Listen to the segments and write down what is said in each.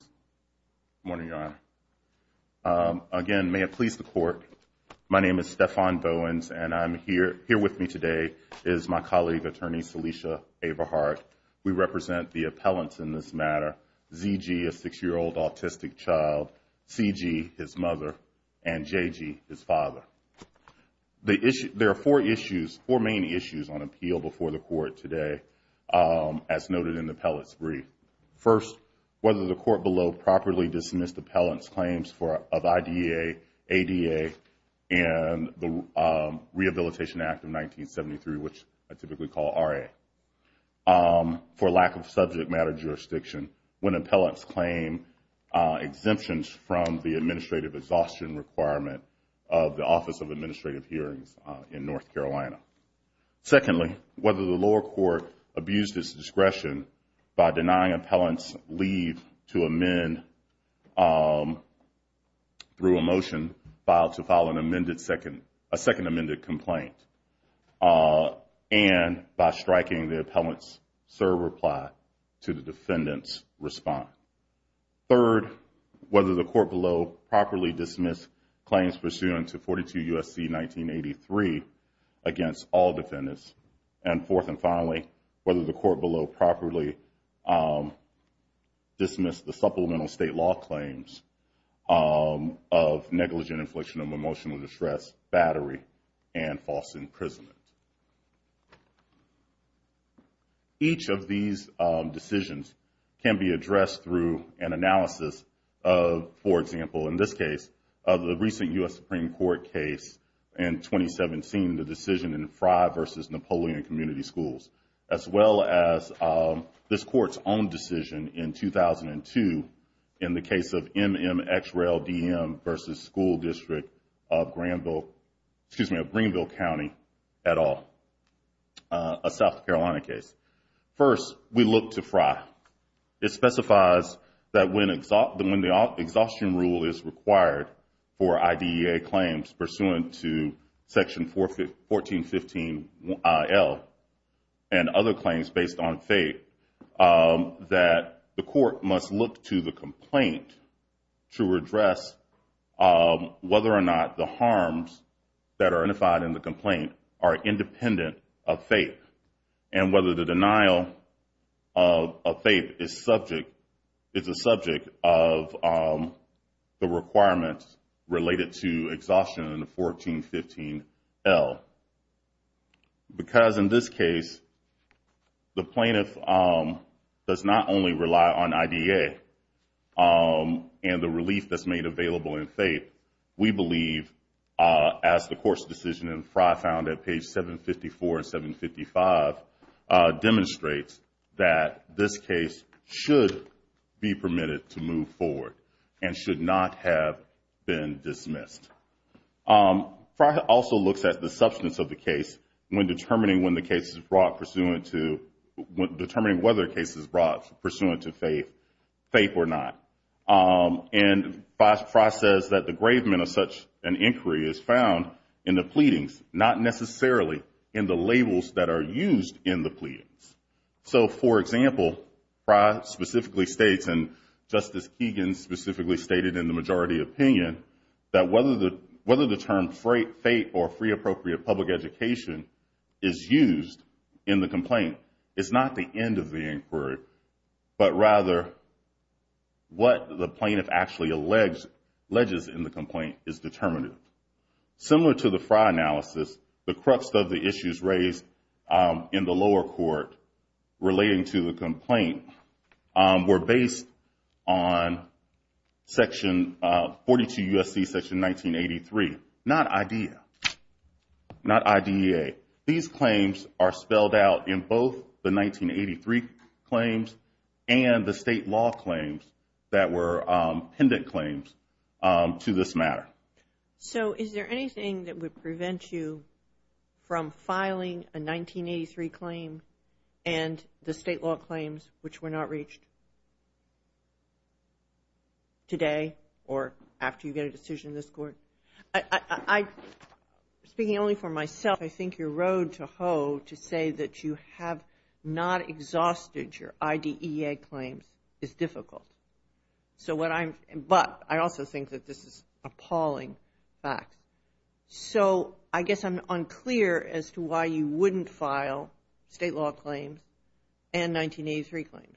Good morning, Your Honor. Again, may it please the Court, my name is Stephon Bowens and I'm here here with me today is my colleague, Attorney Salisha Everhart. We represent the appellants in this matter, Z.G., a six-year-old autistic child, C.G., his mother, and J.G., his father. There are four issues, four main issues, on appeal before the Court today, as noted in the appellant's brief. First, whether the Court below properly dismissed the appellant's claims of I.D.A., A.D.A., and the Rehabilitation Act of 1973, which I typically call R.A., for lack of subject matter jurisdiction when appellants claim exemptions from the administrative exhaustion requirement of the Office of Administrative Hearings in North Carolina. Secondly, whether the lower court abused its discretion by denying appellants leave to amend through a motion filed to file a second amended complaint and by striking the appellant's serve reply to the defendant's response. Third, whether the Court below properly dismissed claims pursuant to 42 U.S.C. 1983 against all defendants. And fourth and finally, whether the Court below properly dismissed the supplemental state law claims of negligent infliction of emotional distress, battery, and false imprisonment. Each of these decisions can be addressed through an analysis of, for example, in this case, of the recent U.S. Supreme Court case in 2017, the decision in Frye versus Napoleon Community Schools, as well as this Court's own decision in 2002 in the case of M.M. X. Rail D.M. versus School District of Greenville County et al., a South Carolina case. First, we look to Frye. It specifies that when the exhaustion rule is required for IDEA claims pursuant to Section 1415 L and other claims based on fate, that the Court must look to the complaint to address whether or not the harms that are identified in the complaint are independent of fate, and whether the denial of fate is a subject of the requirements related to exhaustion in 1415 L. Because in this case, the plaintiff does not only rely on IDEA and the relief that's made available in fate, we believe, as the Court's decision in Frye found at page 754 and 755, demonstrates that this case should be permitted to move forward and should not have been dismissed. Frye also looks at the substance of the case when determining when the and Frye says that the engravement of such an inquiry is found in the pleadings, not necessarily in the labels that are used in the pleadings. So, for example, Frye specifically states, and Justice Keegan specifically stated in the majority opinion, that whether the term fate or free appropriate public education is used in the complaint, it's not the end of the inquiry, but rather what the plaintiff actually alleges in the complaint is determinative. Similar to the Frye analysis, the crux of the issues raised in the lower court relating to the complaint were based on section 42 U.S.C. section 1983, not IDEA, not IDEA. These claims are spelled out in both the 1983 claims and the state law claims that were pendant claims to this matter. So, is there anything that would prevent you from filing a 1983 claim and the state law claims which were not reached today or after you get a decision in this court? I, speaking only for myself, I think your road to hoe to say that you have not exhausted your IDEA claims is difficult. So, what I'm, but I also think that this is appalling fact. So, I guess I'm unclear as to why you wouldn't file state law claims and 1983 claims.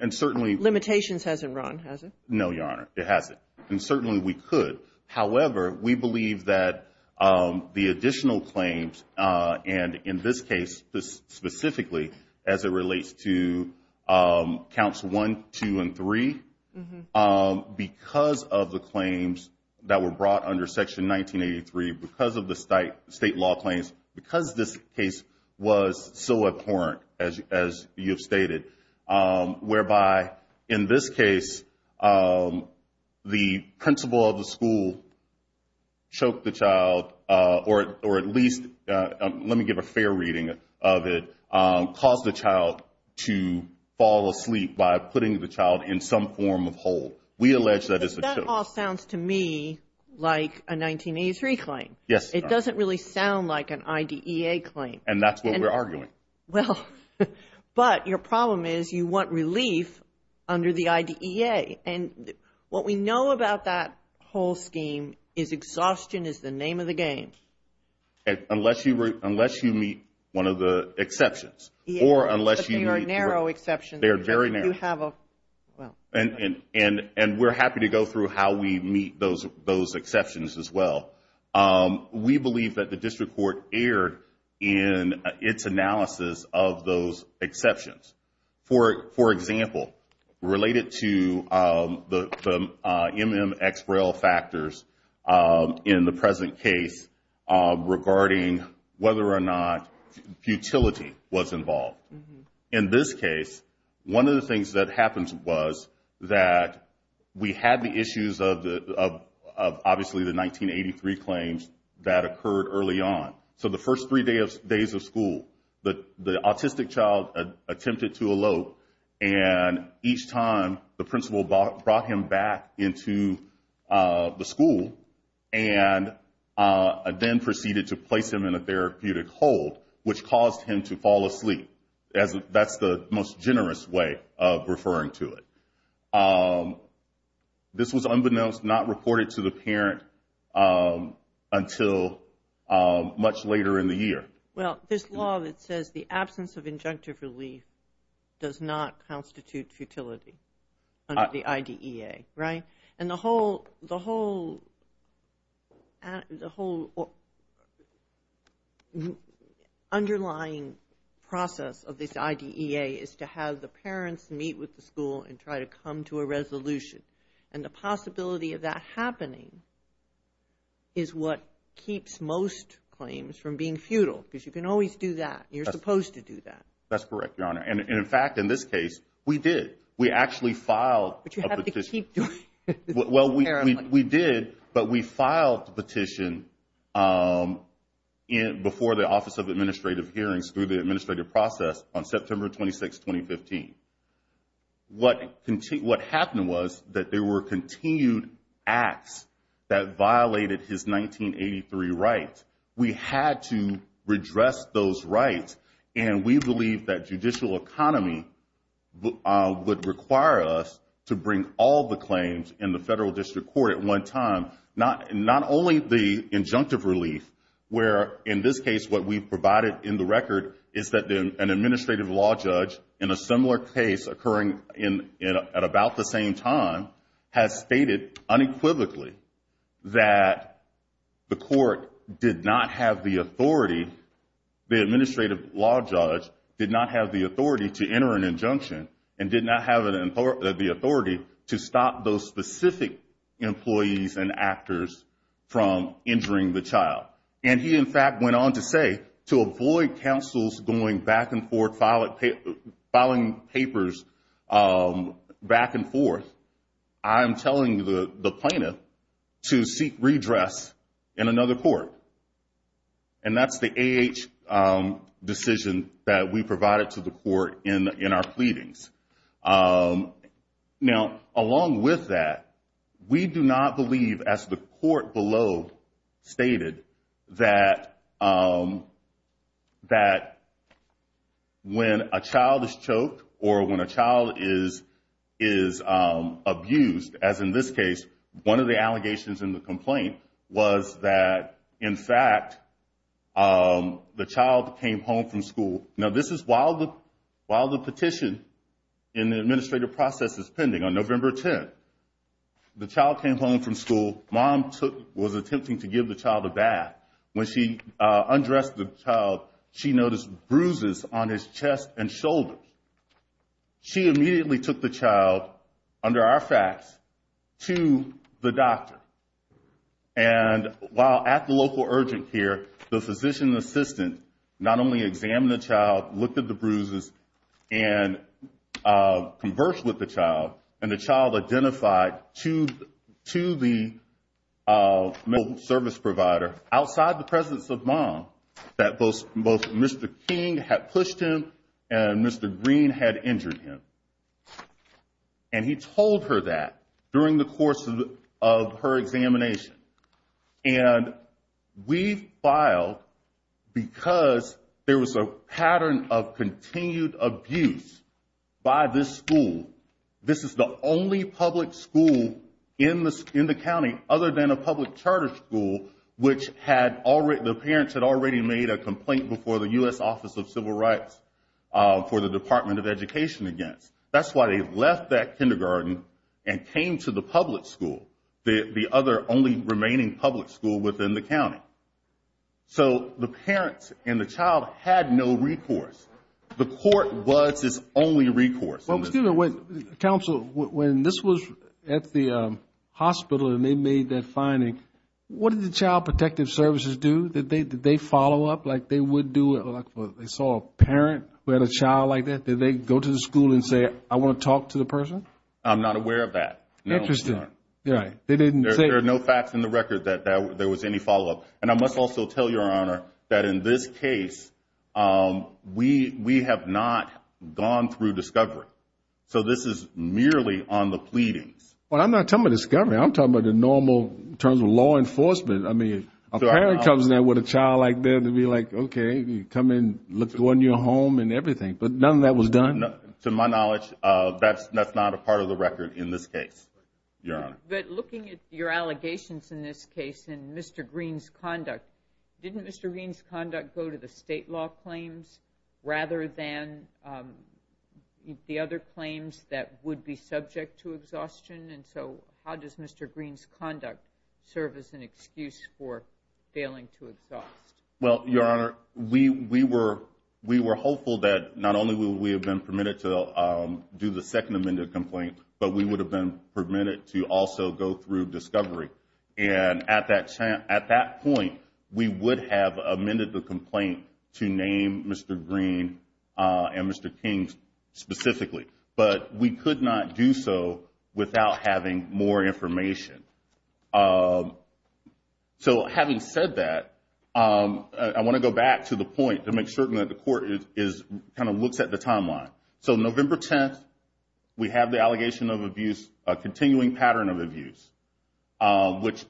And certainly, Limitations hasn't run, has it? No, your honor. It hasn't. And certainly we could. However, we believe that the additional claims and in this case, specifically as it relates to counts one, two, and three, because of the claims that were brought under section 1983, because of the state law claims, because this case was so abhorrent as you've stated, whereby in this case, the principal of the school choked the child or at least, let me give a fair reading of it, caused the child to fall asleep by putting the child in some form of hole. We allege that it's a choke. That all sounds to me like a 1983 claim. Yes. It doesn't really sound like an IDEA claim. And that's what we're arguing. Well, but your problem is you want relief under the IDEA. And what we know about that whole scheme is exhaustion is the name of the game. Unless you meet one of the exceptions. Or unless you meet the narrow exceptions. They are very narrow. And we're happy to go through how we meet those exceptions as well. We believe that district court erred in its analysis of those exceptions. For example, related to the MMX rail factors in the present case regarding whether or not futility was involved. In this case, one of the things that happened was that we had the issues of obviously the 1983 claims that occurred early on. So the first three days of school, the autistic child attempted to elope. And each time, the principal brought him back into the school and then proceeded to place him in a therapeutic hold, which caused him to fall asleep. That's the most generous way of referring to it. This was unbeknownst, not reported to the parent until much later in the year. Well, this law that says the absence of injunctive relief does not constitute futility under the IDEA, right? And the whole underlying process of this IDEA is to have the parents meet with the school and try to come to a resolution. And the possibility of that happening is what keeps most claims from being futile, because you can always do that. You're supposed to do that. That's correct, Your Honor. And in fact, in this case, we did. We actually filed a petition. But you have to keep doing it. Well, we did, but we filed the petition before the Office of Administrative Hearings through the administrative process on September 26, 2015. What happened was that there were continued acts that violated his 1983 rights. We had to redress those rights. And we believe that judicial economy would require us to bring all the claims in the federal district court at one time, not only the injunctive relief, where in this case, what we provided in the record is that an administrative law judge in a similar case occurring at about the same time has stated unequivocally that the court did not have the authority, the administrative law judge did not have the authority to enter an injunction and did not have the authority to stop those specific employees and actors from injuring the child. And he, in fact, went on to say, to avoid counsels going back and forth, filing papers back and forth, I'm telling the plaintiff to seek redress in another court. And that's the AH decision that we provided to the court in our pleadings. Now, along with that, we do not believe, as the court below stated, that when a child is choked or when a child is abused, as in this case, one of the allegations in the petition in the administrative process is pending on November 10th. The child came home from school. Mom was attempting to give the child a bath. When she undressed the child, she noticed bruises on his chest and shoulders. She immediately took the child, under our facts, to the doctor. And while at the local urgent care, the physician assistant not only examined the child, looked at the bruises, and conversed with the child, and the child identified to the medical service provider outside the presence of mom that both Mr. King had pushed him and Mr. Green had injured him. And he told her that during the course of her examination. And we filed because there was a continued abuse by this school. This is the only public school in the county, other than a public charter school, which the parents had already made a complaint before the U.S. Office of Civil Rights for the Department of Education against. That's why they left that kindergarten and came to the public school, the other only remaining public school within the county. So the parents and the child had no recourse. The court was its only recourse. Well, excuse me, counsel, when this was at the hospital and they made that finding, what did the Child Protective Services do? Did they follow up like they would do? They saw a parent who had a child like that. Did they go to the school and say, I want to talk to the person? I'm not aware of that. Interesting. Yeah, they didn't say. There are no facts in the record that there was any follow up. And I must also tell your honor that in this case, we we have not gone through discovery. So this is merely on the pleadings. Well, I'm not talking about discovery. I'm talking about the normal terms of law enforcement. I mean, a parent comes in there with a child like that to be like, OK, come in, look, go in your home and everything. But none of that was done. To my knowledge, that's that's not a part of the record in this case. But looking at your allegations in this case and Mr. Green's conduct, didn't Mr. Green's conduct go to the state law claims rather than the other claims that would be subject to exhaustion? And so how does Mr. Green's conduct serve as an excuse for failing to exhaust? Well, your honor, we we were we were hopeful that not only would we have been permitted to do the second amended complaint, but we would have been permitted to also go through discovery. And at that at that point, we would have amended the complaint to name Mr. Green and Mr. King specifically. But we could not do so without having more information. So having said that, I want to go back to the point to make certain that the court is kind of looks at the timeline. So November 10th, we have the allegation of abuse, a continuing pattern of abuse, which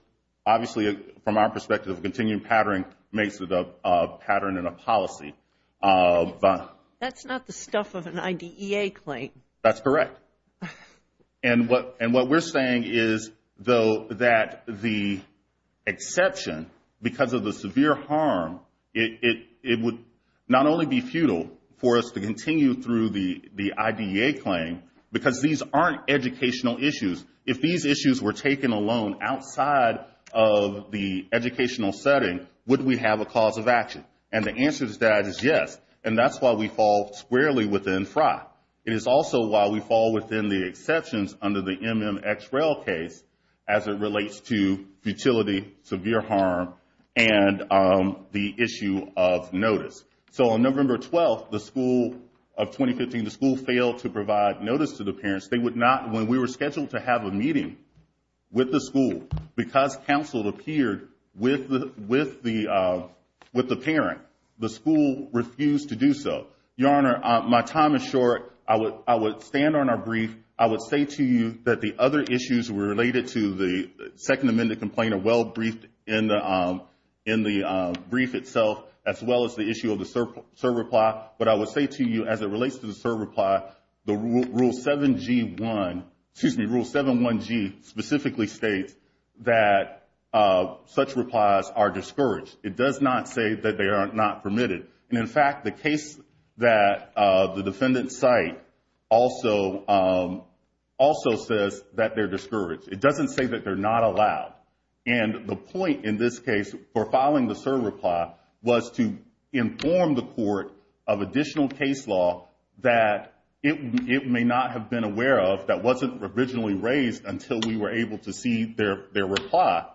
obviously, from our perspective, continuing pattern makes it a pattern and a policy. That's not the stuff of an IDEA claim. That's correct. And what and what we're saying is, though, that the exception, because of the severe harm, it would not only be futile for us to continue through the IDEA claim because these aren't educational issues. If these issues were taken alone outside of the educational setting, would we have a cause of action? And the answer to that is yes. And that's why we fall squarely within FRA. It is also why we fall within the exceptions under the MMXREL case as it relates to futility, severe harm, and the issue of notice. So on November 12th, the school of 2015, the school failed to provide notice to the parents. They would not, when we were scheduled to have a meeting with the school, because counsel appeared with the parent, the school refused to do so. Your Honor, my time is short. I would stand on our brief. I would say to you that the other issues related to the Second Amendment complaint are well briefed in the brief itself, as well as the issue of the cert reply. But I would say to you, as it relates to the cert reply, the Rule 7G1, excuse me, Rule 7.1G specifically states that such replies are discouraged. It does not say that they are not permitted. And in fact, the case that the defendant cite also says that they're discouraged. It doesn't say that they're not allowed. And the point in this case for filing the cert reply was to inform the court of additional case law that it may not have been aware of, that wasn't originally raised until we were able to see their reply,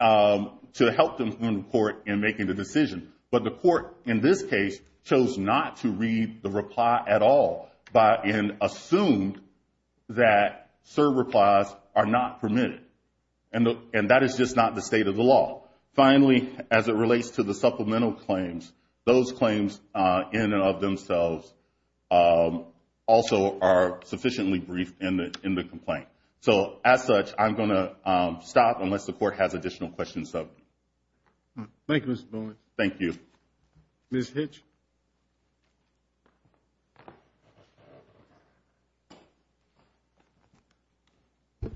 to help inform the court in making the decision. But the court, in this case, chose not to read the reply at all, but assumed that cert replies are not permitted. And that is just not the state of the law. Finally, as it relates to the supplemental claims, those claims in and stop unless the court has additional questions. Thank you, Mr. Bowen. Thank you. Ms. Hitch.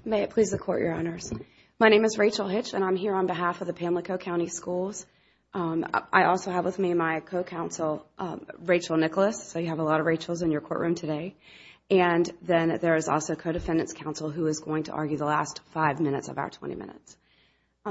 May it please the court, Your Honors. My name is Rachel Hitch, and I'm here on behalf of the Pamlico County Schools. I also have with me my co-counsel, Rachel Nicholas. So you have a lot of Rachels in your courtroom today. And then there is also co-defendant's counsel who is going to speak in five minutes of our 20 minutes.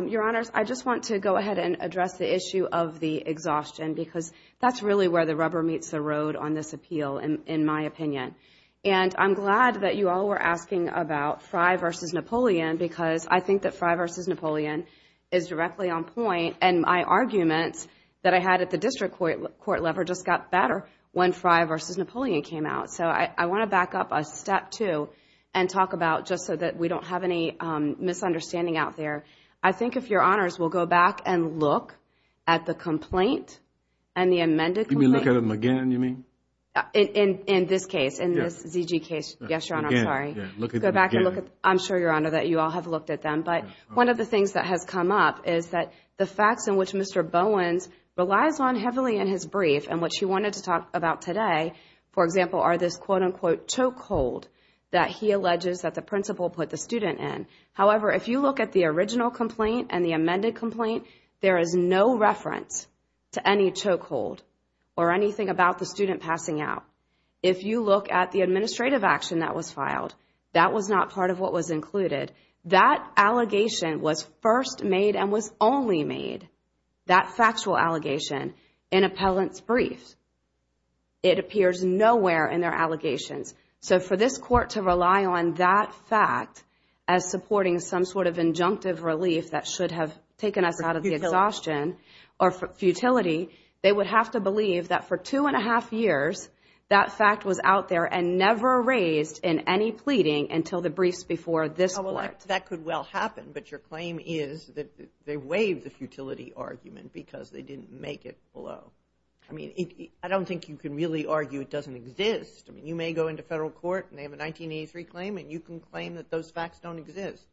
Your Honors, I just want to go ahead and address the issue of the exhaustion because that's really where the rubber meets the road on this appeal, in my opinion. And I'm glad that you all were asking about Frey versus Napoleon because I think that Frey versus Napoleon is directly on point. And my arguments that I had at the district court level just got better when Frey versus Napoleon came out. So I want to back up a step two and talk about, just so that we don't have any misunderstanding out there, I think if Your Honors will go back and look at the complaint and the amended... You mean look at them again, you mean? In this case, in this ZG case. Yes, Your Honor. I'm sorry. Again, yeah. Look at them again. I'm sure, Your Honor, that you all have looked at them. But one of the things that has come up is that the facts in which Mr. Bowen relies on heavily in his brief and what you wanted to talk about today, for example, are this, quote unquote, chokehold that he alleges that the principal put the student in. However, if you look at the original complaint and the amended complaint, there is no reference to any chokehold or anything about the student passing out. If you look at the administrative action that was filed, that was not part of what was included. That allegation was first made and was only made, that factual allegation, in appellant's brief. It appears nowhere in their allegations. So for this court to rely on that fact as supporting some sort of injunctive relief that should have taken us out of the exhaustion or futility, they would have to believe that for two and a half years, that fact was out there and never raised in any pleading until the briefs before this court. That could well happen, but your claim is that they waived the futility argument because they think you can really argue it doesn't exist. I mean, you may go into federal court and they have a 1983 claim and you can claim that those facts don't exist,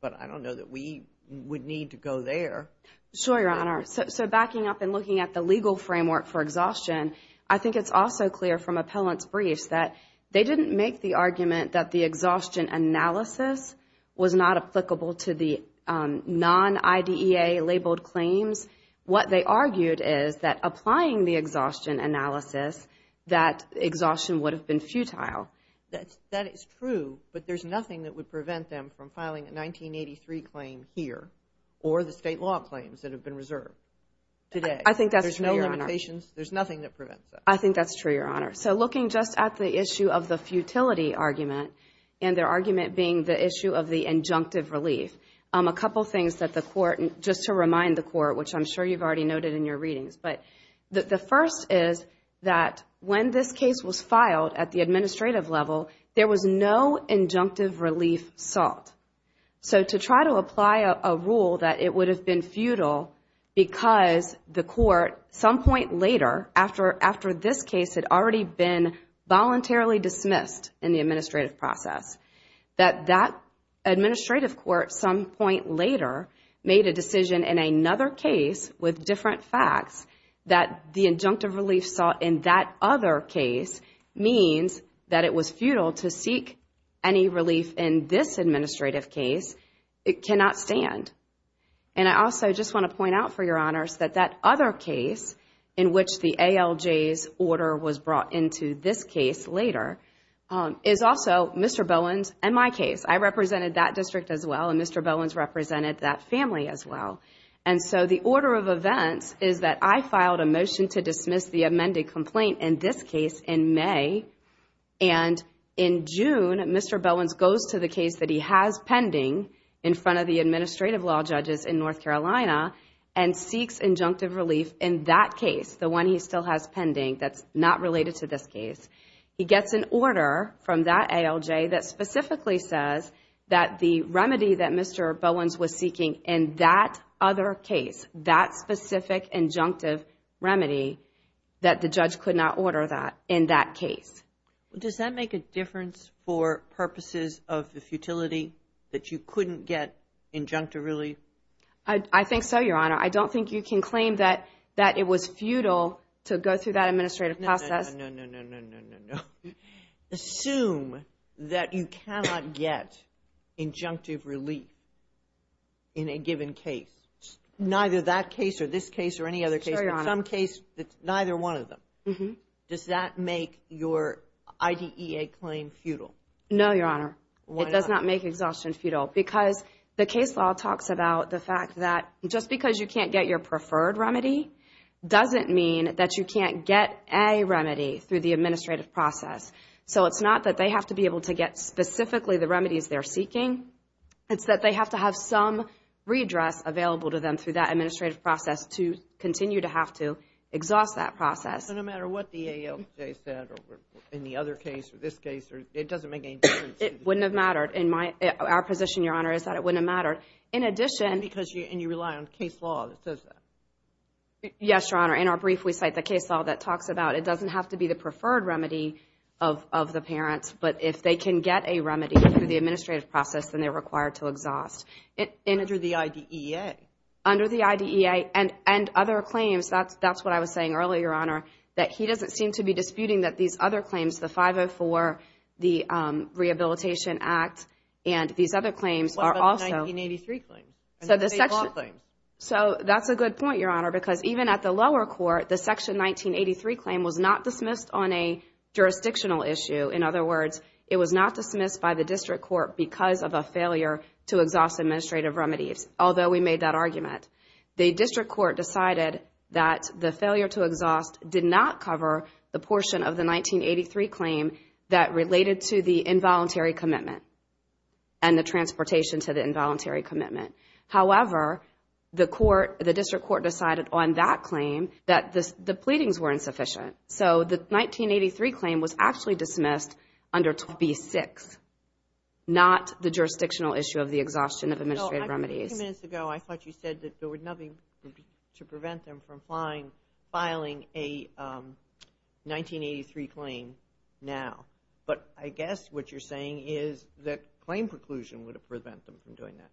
but I don't know that we would need to go there. Sure, Your Honor. So backing up and looking at the legal framework for exhaustion, I think it's also clear from appellant's briefs that they didn't make the argument that the exhaustion analysis was not applicable to the non-IDEA labeled claims. What they argued is applying the exhaustion analysis, that exhaustion would have been futile. That is true, but there's nothing that would prevent them from filing a 1983 claim here or the state law claims that have been reserved today. I think that's true, Your Honor. There's no limitations. There's nothing that prevents that. I think that's true, Your Honor. So looking just at the issue of the futility argument and their argument being the issue of the injunctive relief, a couple things that the court, just to remind the court, which I'm sure you've already noted in your readings, the first is that when this case was filed at the administrative level, there was no injunctive relief sought. So to try to apply a rule that it would have been futile because the court some point later, after this case had already been voluntarily dismissed in the administrative process, that that administrative court some point later made a decision in another case with different facts that the injunctive relief sought in that other case means that it was futile to seek any relief in this administrative case. It cannot stand. And I also just want to point out for Your Honors that that other case in which the ALJ's order was brought into this case later is also Mr. Bowen's and my case. I represented that district as well, and Mr. Bowen's represented that family as well. And so the order of events is that I filed a motion to dismiss the amended complaint in this case in May, and in June, Mr. Bowen's goes to the case that he has pending in front of the administrative law judges in North Carolina and seeks injunctive relief in that case, the one he still has pending that's not related to this case. He gets an order from that ALJ that specifically says that the remedy that Mr. Bowen's was seeking in that other case, that specific injunctive remedy, that the judge could not order that in that case. Well, does that make a difference for purposes of the futility that you couldn't get injunctive relief? I think so, Your Honor. I don't think you can claim that it was futile to go through that administrative process. No, no, no, no, no, no, no. Assume that you can't get injunctive relief in a given case, neither that case or this case or any other case, but some case that's neither one of them. Does that make your IDEA claim futile? No, Your Honor. Why not? It does not make exhaustion futile because the case law talks about the fact that just because you can't get your preferred remedy doesn't mean that you can't get a remedy through the administrative process. So it's not that they have to be able to get the remedies they're seeking. It's that they have to have some redress available to them through that administrative process to continue to have to exhaust that process. No matter what the AOJ said in the other case or this case, it doesn't make any difference. It wouldn't have mattered. Our position, Your Honor, is that it wouldn't have mattered. And you rely on case law that says that. Yes, Your Honor. In our brief, we cite the case law that talks about it doesn't have to be the remedy through the administrative process, then they're required to exhaust. Under the IDEA? Under the IDEA and other claims. That's what I was saying earlier, Your Honor, that he doesn't seem to be disputing that these other claims, the 504, the Rehabilitation Act, and these other claims are also. What about the 1983 claim? So that's a good point, Your Honor, because even at the lower court, the Section 1983 claim was not dismissed on a jurisdictional issue. In other words, it was not dismissed by the district court because of a failure to exhaust administrative remedies, although we made that argument. The district court decided that the failure to exhaust did not cover the portion of the 1983 claim that related to the involuntary commitment and the transportation to the involuntary commitment. However, the court, the district court decided on that claim that the pleadings were insufficient. So the 1983 claim was actually dismissed under B6, not the jurisdictional issue of the exhaustion of administrative remedies. A few minutes ago, I thought you said that there was nothing to prevent them from filing a 1983 claim now, but I guess what you're saying is that claim preclusion would prevent them from doing that.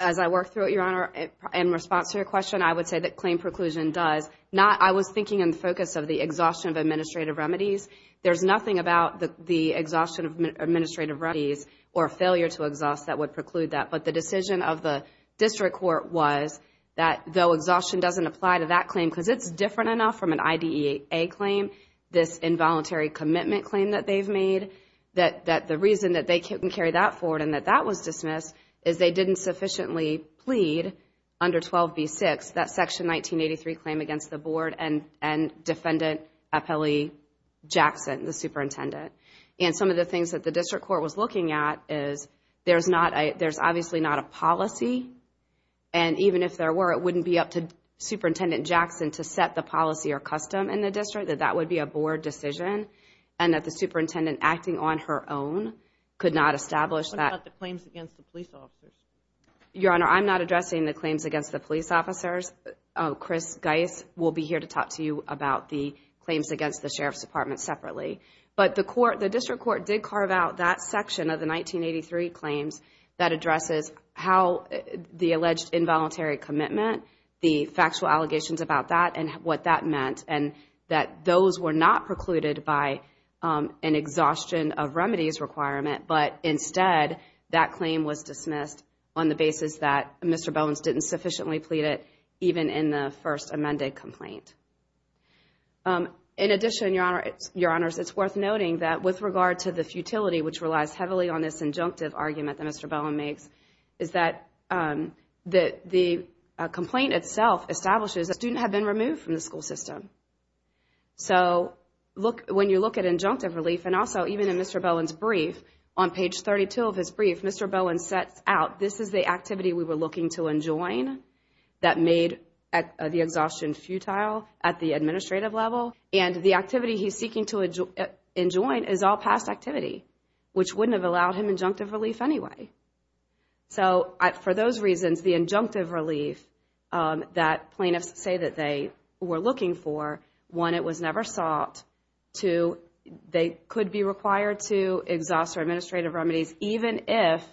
As I work through it, Your Honor, in response to your question, I would say that claim preclusion does. I was thinking in the focus of the exhaustion of administrative remedies. There's nothing about the exhaustion of administrative remedies or failure to exhaust that would preclude that, but the decision of the district court was that though exhaustion doesn't apply to that claim because it's different enough from an IDEA claim, this involuntary commitment claim that they've made, that the reason that they couldn't carry that forward and that that was dismissed is they didn't sufficiently plead under 12B6, that section 1983 claim against the board and Defendant Appellee Jackson, the superintendent. And some of the things that the district court was looking at is there's obviously not a policy, and even if there were, it wouldn't be up to Superintendent Jackson to set the policy or custom in the district, that that would be a board decision and that the superintendent acting on her own could not establish that. What about the claims against the police officers? Your Honor, I'm not addressing the claims against the police officers. Chris Geis will be here to talk to you about the claims against the Sheriff's Department separately. But the court, the district court did carve out that section of the 1983 claims that addresses how the alleged involuntary commitment, the factual allegations about that and what that meant and that those were not precluded by an exhaustion of remedies requirement, but instead that claim was dismissed on the basis that Mr. Bowens didn't sufficiently plead it even in the first amended complaint. In addition, Your Honor, it's worth noting that with regard to the futility, which relies heavily on this injunctive argument that Mr. Bowen makes, is that the complaint itself establishes that had been removed from the school system. So look, when you look at injunctive relief and also even in Mr. Bowen's brief on page 32 of his brief, Mr. Bowen sets out this is the activity we were looking to enjoin that made the exhaustion futile at the administrative level and the activity he's seeking to enjoin is all past activity, which wouldn't have allowed him injunctive relief anyway. So for those reasons, the injunctive relief that plaintiffs say that they were looking for, one, it was never sought, two, they could be required to exhaust their administrative remedies even if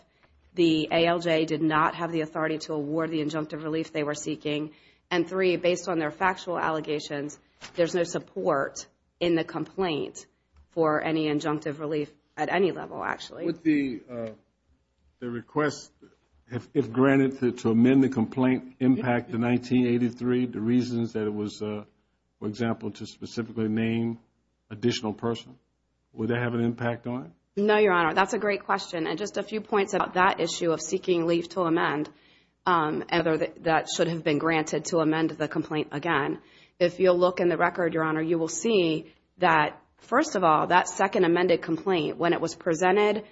the ALJ did not have the authority to award the injunctive relief they were seeking, and three, based on their factual allegations, there's no support in the complaint for any The request, if granted to amend the complaint, impact the 1983, the reasons that it was, for example, to specifically name additional person, would that have an impact on it? No, Your Honor, that's a great question and just a few points about that issue of seeking leave to amend, whether that should have been granted to amend the complaint again. If you'll look in the record, Your Honor, you will see that, first of all, that second amended complaint, when it was presented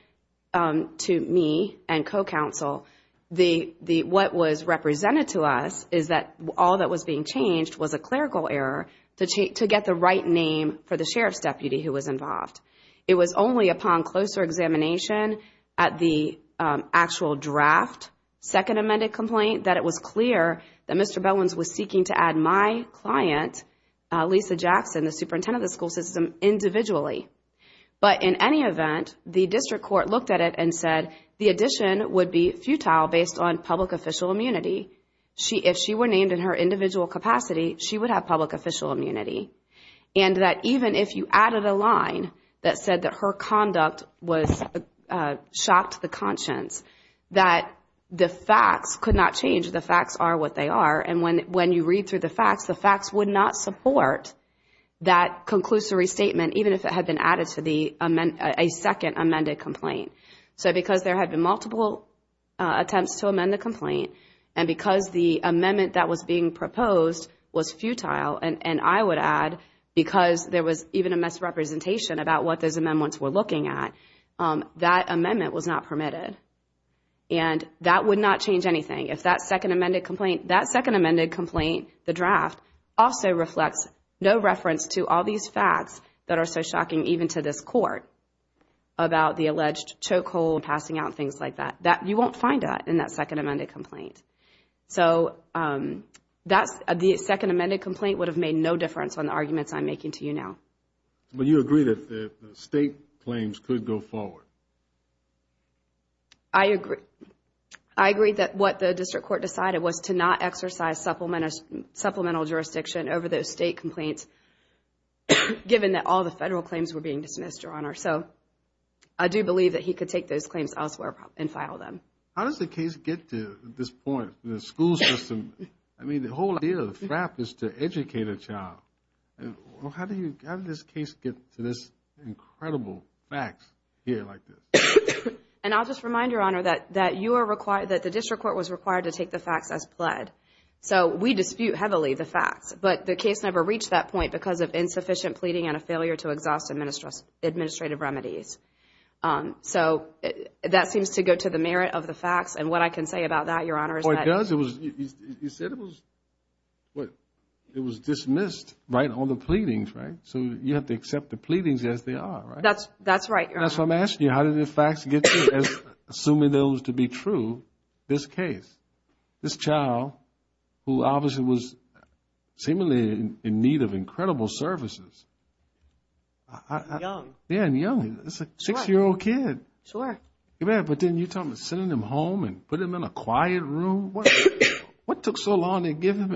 to me and co-counsel, what was represented to us is that all that was being changed was a clerical error to get the right name for the sheriff's deputy who was involved. It was only upon closer examination at the actual draft second amended complaint that it was clear that Mr. Bellins was seeking to add my client, Lisa Jackson, the superintendent of the school system, individually. But in any event, the district court looked at it and said the addition would be futile based on public official immunity. If she were named in her individual capacity, she would have public official immunity. And that even if you added a line that said that her conduct was shocked the conscience, that the facts could not change, the facts are what they are, and when you read through the facts, the facts would not support that conclusory statement, even if it had been added to a second amended complaint. So because there had been multiple attempts to amend the complaint, and because the amendment that was being proposed was futile, and I would add, because there was even a misrepresentation about what those amendments were looking at, that amendment was not permitted. And that would not change anything. If that second amended complaint, that second amended complaint, the draft, also reflects no reference to all these facts that are so shocking even to this court about the alleged chokehold, passing out, things like that. You won't find that in that second amended complaint. So the second amended complaint would have made no difference on the arguments I'm making to you now. But you agree that the state claims could go supplemental jurisdiction over those state complaints, given that all the federal claims were being dismissed, Your Honor. So I do believe that he could take those claims elsewhere and file them. How does the case get to this point, the school system? I mean, the whole idea of the trap is to educate a child. How did this case get to this incredible facts here like this? And I'll just remind Your Honor that you are required, that the district court was required to take the facts as pled. So we dispute heavily the facts. But the case never reached that point because of insufficient pleading and a failure to exhaust administrative remedies. So that seems to go to the merit of the facts. And what I can say about that, Your Honor, is that. Well, it does. It was, you said it was, what, it was dismissed, right? All the pleadings, right? So you have to accept the pleadings as they are, right? That's right, Your Honor. That's why I'm asking you, how did the facts get to, assuming those to be true, this case, this child who obviously was seemingly in need of incredible services? Young. Yeah, and young. It's a six-year-old kid. Sure. Yeah, but then you're talking about sending him home and put him in a quiet room. What took so long to give him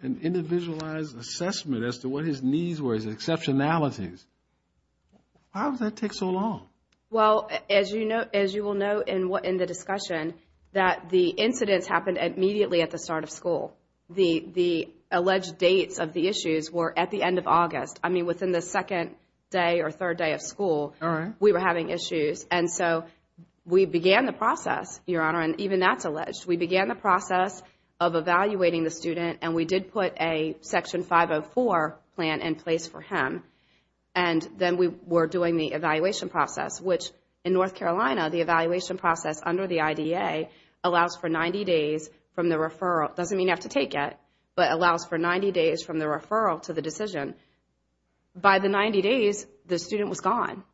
an individualized assessment as to what his needs were, his exceptionalities? Why would that take so long? Well, as you will know in the discussion, that the incidents happened immediately at the start of school. The alleged dates of the issues were at the end of August. I mean, within the second day or third day of school, we were having issues. And so we began the process, Your Honor, and even that's alleged. We began the process of evaluating the student and we did put a Section 504 plan in place for him. And then we were doing the evaluation process, which in North Carolina, the evaluation process under the IDA allows for 90 days from the referral. Doesn't mean you have to take it, but allows for 90 days from the referral to the decision. By the 90 days, the student was gone.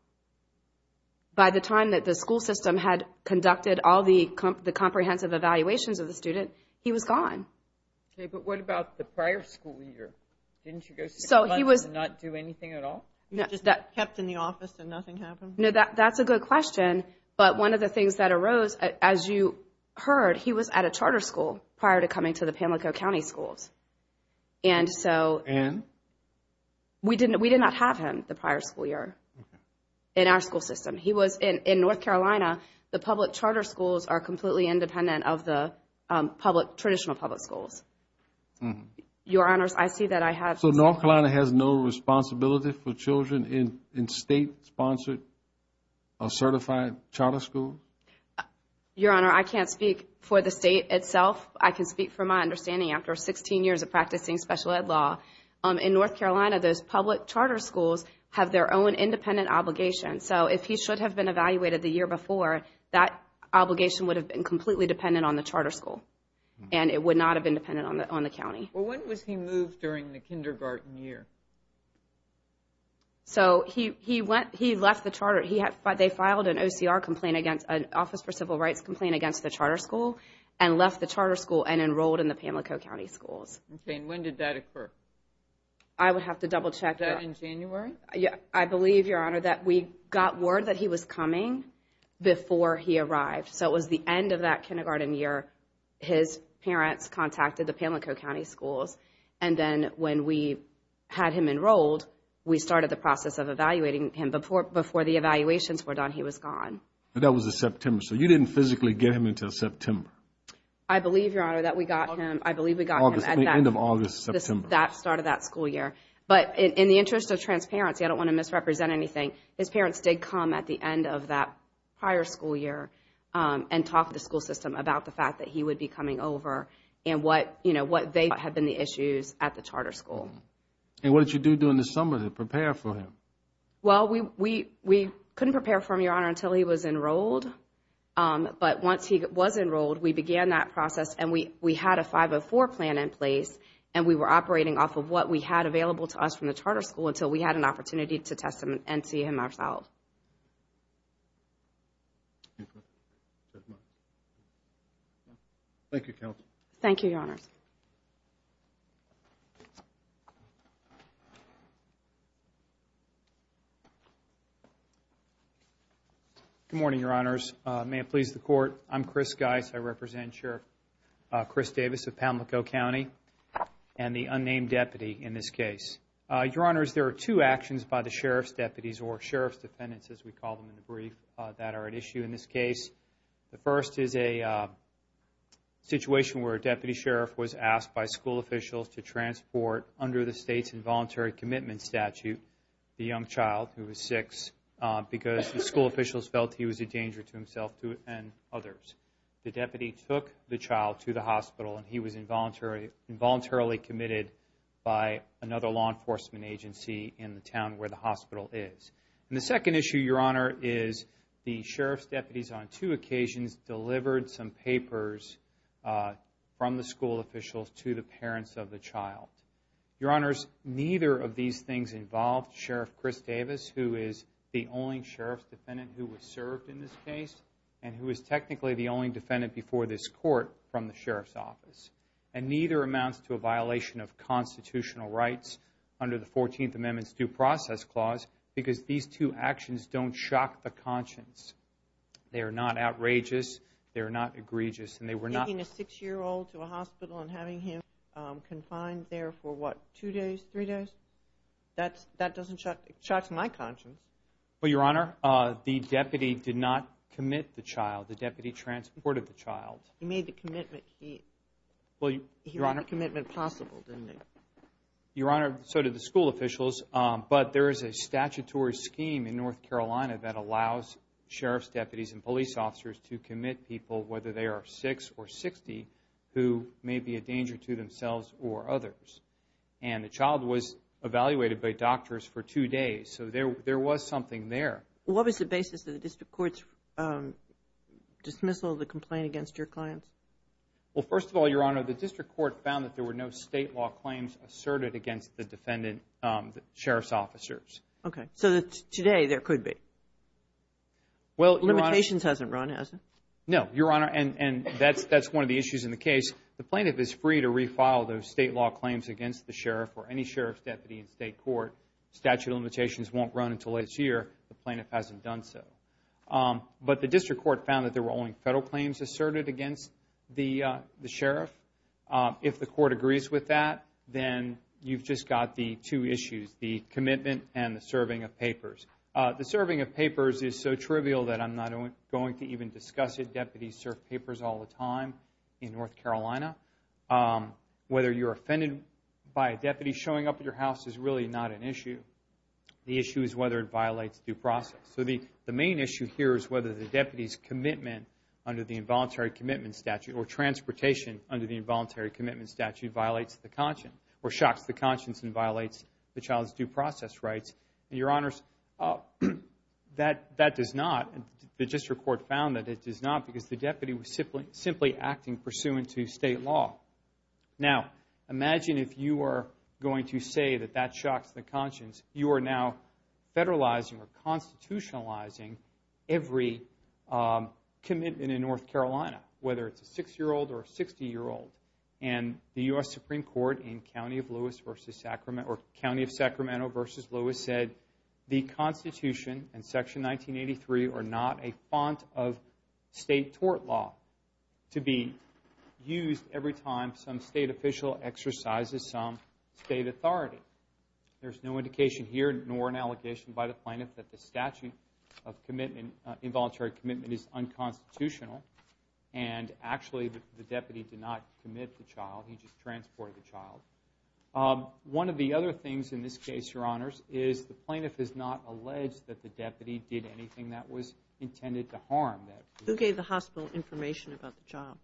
By the time that the school system had conducted all the comprehensive evaluations of the student, he was gone. Okay, but what about the prior school year? Didn't you go to school and not do anything at all? Just kept in the office and nothing happened? No, that's a good question. But one of the things that arose, as you heard, he was at a charter school prior to coming to the Pamlico County schools. And so we did not have him the prior school year in our school system. He was in North Carolina. The public charter schools are completely independent of the public, traditional public schools. Your Honor, I see that I have... So North Carolina has no responsibility for children in state-sponsored or certified charter school? Your Honor, I can't speak for the state itself. I can speak for my understanding after 16 years of practicing special ed law. In North Carolina, those public charter schools have their own independent obligation. So if he should have been evaluated the year before, that obligation would have been completely dependent on the charter school. And it would not have been dependent on the county. Well, when was he moved during the kindergarten year? So he left the charter. They filed an OCR complaint against... an Office for Civil Rights complaint against the charter school and left the charter school and enrolled in the Pamlico County schools. Okay, and when did that occur? I would have to double check. In January? Yeah, I believe, Your Honor, that we got word that he was coming before he arrived. So it was the end of that kindergarten year. His parents contacted the Pamlico County schools. And then when we had him enrolled, we started the process of evaluating him. Before the evaluations were done, he was gone. That was in September. So you didn't physically get him until September? I believe, Your Honor, that we got him... I believe we got him at the end of August, September. That started that school year. But in the interest of transparency, I don't want to misrepresent anything. His parents did come at the end of that prior school year and talk to the school system about the fact that he would be coming over and what, you know, what they thought had been the issues at the charter school. And what did you do during the summer to prepare for him? Well, we couldn't prepare for him, Your Honor, until he was enrolled. But once he was enrolled, we began that process. And we had a 504 plan in place. And we were operating off of what we had available to us from the charter school until we had an opportunity to test him and see him ourselves. Thank you, counsel. Thank you, Your Honor. Good morning, Your Honors. May it please the Court, I'm Chris Geis. I represent Sheriff Chris Davis of Pamlico County and the unnamed deputy in this case. Your Honors, there are two actions by the Sheriff's deputies or Sheriff's defendants, as we call them in the brief, that are at issue in this case. The first is a situation where a deputy sheriff was asked by school officials to transport, under the state's involuntary commitment statute, the young child, who was six, because the school officials felt he was a danger to himself and others. The deputy took the child to the hospital and he was involuntarily committed by another law enforcement agency in the town where the hospital is. And the second issue, Your Honor, is the Sheriff's deputies on two occasions delivered some papers from the school officials to the parents of the child. Your Honors, neither of these things involved Sheriff Chris Davis, who is the only Sheriff's defendant who was served in this case and who is technically the only defendant before this Court from the Sheriff's office. And neither amounts to a violation of constitutional rights under the 14th Amendment's Due Process Clause, because these two actions don't shock the conscience. They are not outrageous, they are not egregious, and they were not... Taking a six-year-old to a hospital and having him confined there for, what, two days, three days? That doesn't shock my conscience. Well, Your Honor, the deputy did not commit the child. The deputy transported the child. He made the commitment. He made the commitment possible, didn't he? Your Honor, so did the school officials. But there is a statutory scheme in North Carolina that allows Sheriff's deputies and police officers to commit people, whether they are six or 60, who may be a danger to themselves or others. And the child was evaluated by doctors for two days, so there was something there. What was the basis of the District Court's dismissal of the complaint against your clients? Well, first of all, Your Honor, the District Court found that there were no state law claims asserted against the defendant, the Sheriff's officers. Okay, so today there could be. Well, Your Honor... Limitations hasn't run, has it? No, Your Honor, and that's one of the issues in the case. The plaintiff is free to refile those state law claims against the Sheriff or any Sheriff's deputy in state court. Statute of limitations won't run until next year. The plaintiff hasn't done so. But the District Court found that there were only federal claims asserted against the Sheriff. If the Court agrees with that, then you've just got the two issues, the commitment and the serving of papers. The serving of papers is so trivial that I'm not going to even discuss it. Deputies serve papers all the time in North Carolina. Whether you're offended by a deputy showing up at your house is really not an issue. The issue is whether it violates due process. So the main issue here is whether the deputy's commitment under the Involuntary Commitment Statute or transportation under the Involuntary Commitment Statute violates the conscience or shocks the conscience and violates the child's due process rights. And, Your Honors, that does not. The District Court found that it does not because the deputy was simply acting pursuant to state law. Now, imagine if you were going to say that that shocks the conscience. You are now federalizing or constitutionalizing every commitment in North Carolina, whether it's a six-year-old or a 60-year-old. And the U.S. Supreme Court in County of Sacramento v. Lewis said the Constitution and Section 1983 are not a font of state tort law to be used every time some state official exercises some state authority. There's no indication here nor an allegation by the plaintiff that the statute of involuntary commitment is unconstitutional. And actually, the deputy did not commit the child. He just transported the child. One of the other things in this case, Your Honors, is the plaintiff is not alleged that the deputy did anything that was intended to harm that. Who gave the hospital information about the child?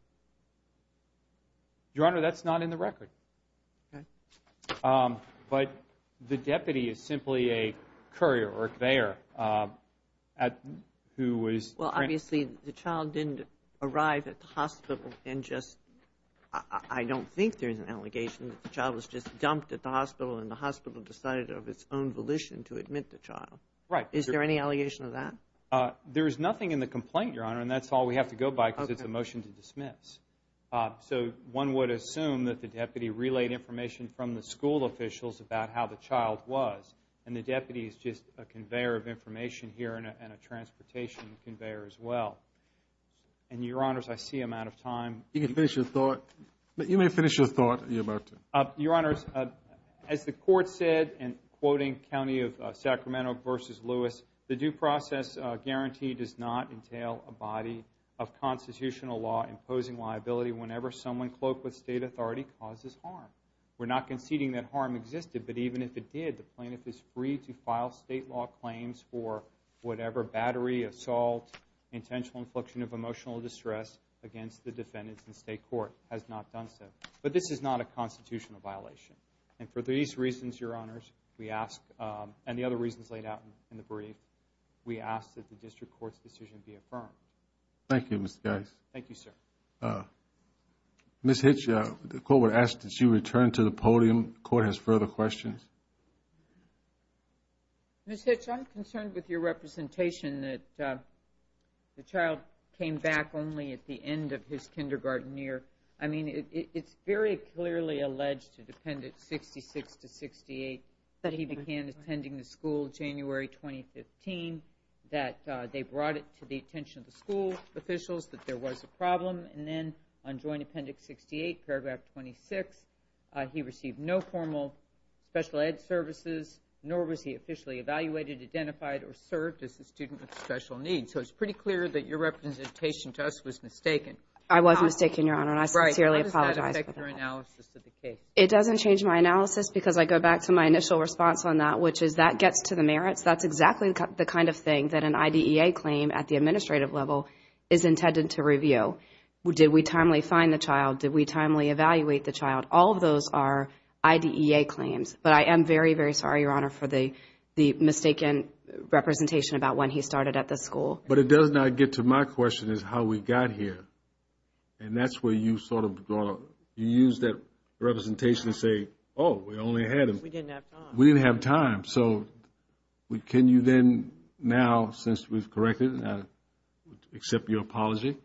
Your Honor, that's not in the record. Okay. But the deputy is simply a courier or a conveyor at who was... Well, obviously, the child didn't arrive at the hospital and just... I don't think there's an allegation that the child was just dumped at the hospital and the hospital decided of its own volition to admit the child. Right. Is there any allegation of that? There's nothing in the complaint, Your Honor, and that's all we have to go by because it's a motion to dismiss. So one would assume that the deputy relayed information from the school officials about how the child was and the deputy is just a conveyor of information here and a transportation conveyor as well. And Your Honors, I see I'm out of time. You can finish your thought. You may finish your thought, Your Honor. Your Honors, as the court said in quoting County of constitutional law, imposing liability whenever someone cloaked with state authority causes harm. We're not conceding that harm existed, but even if it did, the plaintiff is free to file state law claims for whatever battery, assault, intentional infliction of emotional distress against the defendants in state court has not done so. But this is not a constitutional violation. And for these reasons, Your Honors, we ask... And the other reasons laid out in the brief, we ask that the district court's decision be affirmed. Thank you, Mr. Geis. Thank you, sir. Ms. Hitch, the court would ask that you return to the podium. The court has further questions. Ms. Hitch, I'm concerned with your representation that the child came back only at the end of his kindergarten year. I mean, it's very clearly alleged in appendix 66 to 68 that he began attending the school January 2015, that they brought it to the attention of the school officials, that there was a problem. And then on joint appendix 68, paragraph 26, he received no formal special ed services, nor was he officially evaluated, identified, or served as a student with special needs. So it's pretty clear that your representation to us was mistaken. I was mistaken, Your Honor, and I sincerely apologize. What's your analysis of the case? It doesn't change my analysis because I go back to my initial response on that, which is that gets to the merits. That's exactly the kind of thing that an IDEA claim at the administrative level is intended to review. Did we timely find the child? Did we timely evaluate the child? All of those are IDEA claims. But I am very, very sorry, Your Honor, for the mistaken representation about when he started at the school. But it does not get to my question is how we got here. And that's where you sort of, you use that representation to say, oh, we only had him. We didn't have time. We didn't have time. So can you then now, since we've corrected, I accept your apology,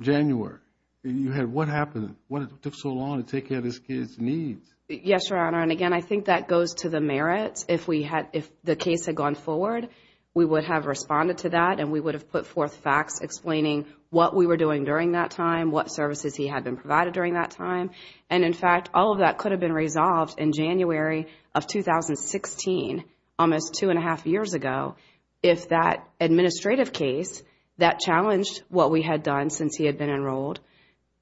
January, you had, what happened? What took so long to take care of this kid's needs? Yes, Your Honor. And again, I think that goes to the merits. If we had, if the case had gone forward, we would have responded to that and we would have put forth facts explaining what we were doing during that time, what services he had been provided during that time. And in fact, all of that could have been resolved in January of 2016, almost two and a half years ago. If that administrative case that challenged what we had done since he had been enrolled,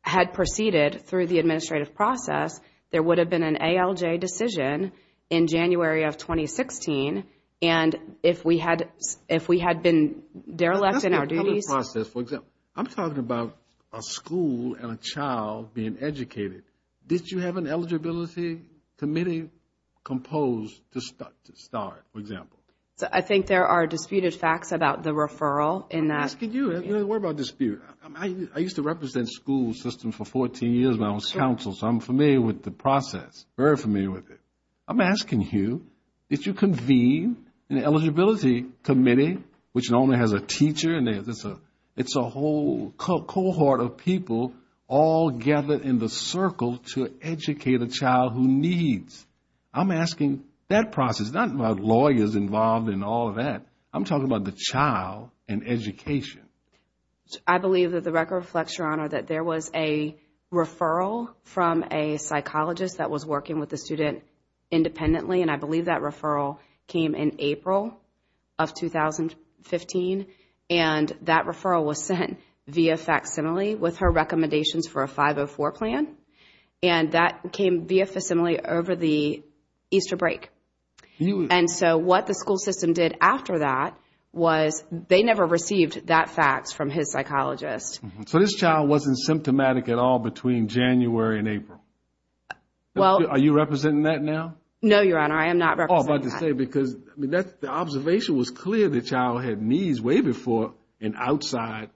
had proceeded through the administrative process, there would have been an ALJ decision in January of 2016. And if we had, if we had been derelict in our duties... That's a public process. For example, I'm talking about a school and a child being educated. Did you have an eligibility committee composed to start, for example? I think there are disputed facts about the referral in that... I'm asking you, what about dispute? I used to represent school systems for 14 years when I was counsel, so I'm familiar with the process, very familiar with it. I'm asking you, did you convene an eligibility committee, which normally has a teacher and it's a whole cohort of people all gathered in the circle to educate a child who needs? I'm asking that process, not about lawyers involved in all of that. I'm talking about the child and education. I believe that the record reflects, Your Honor, that there was a referral from a psychologist that was working with the student independently. And I believe that referral came in April of 2015. And that referral was sent via facsimile with her recommendations for a 504 plan. And that came via facsimile over the Easter break. And so what the school system did after that was they never received that fax from his psychologist. So this child wasn't symptomatic at all between January and April? Well... Are you representing that now? No, Your Honor, I am not representing that. I was about to say, because the observation was clear the child had needs way before an outside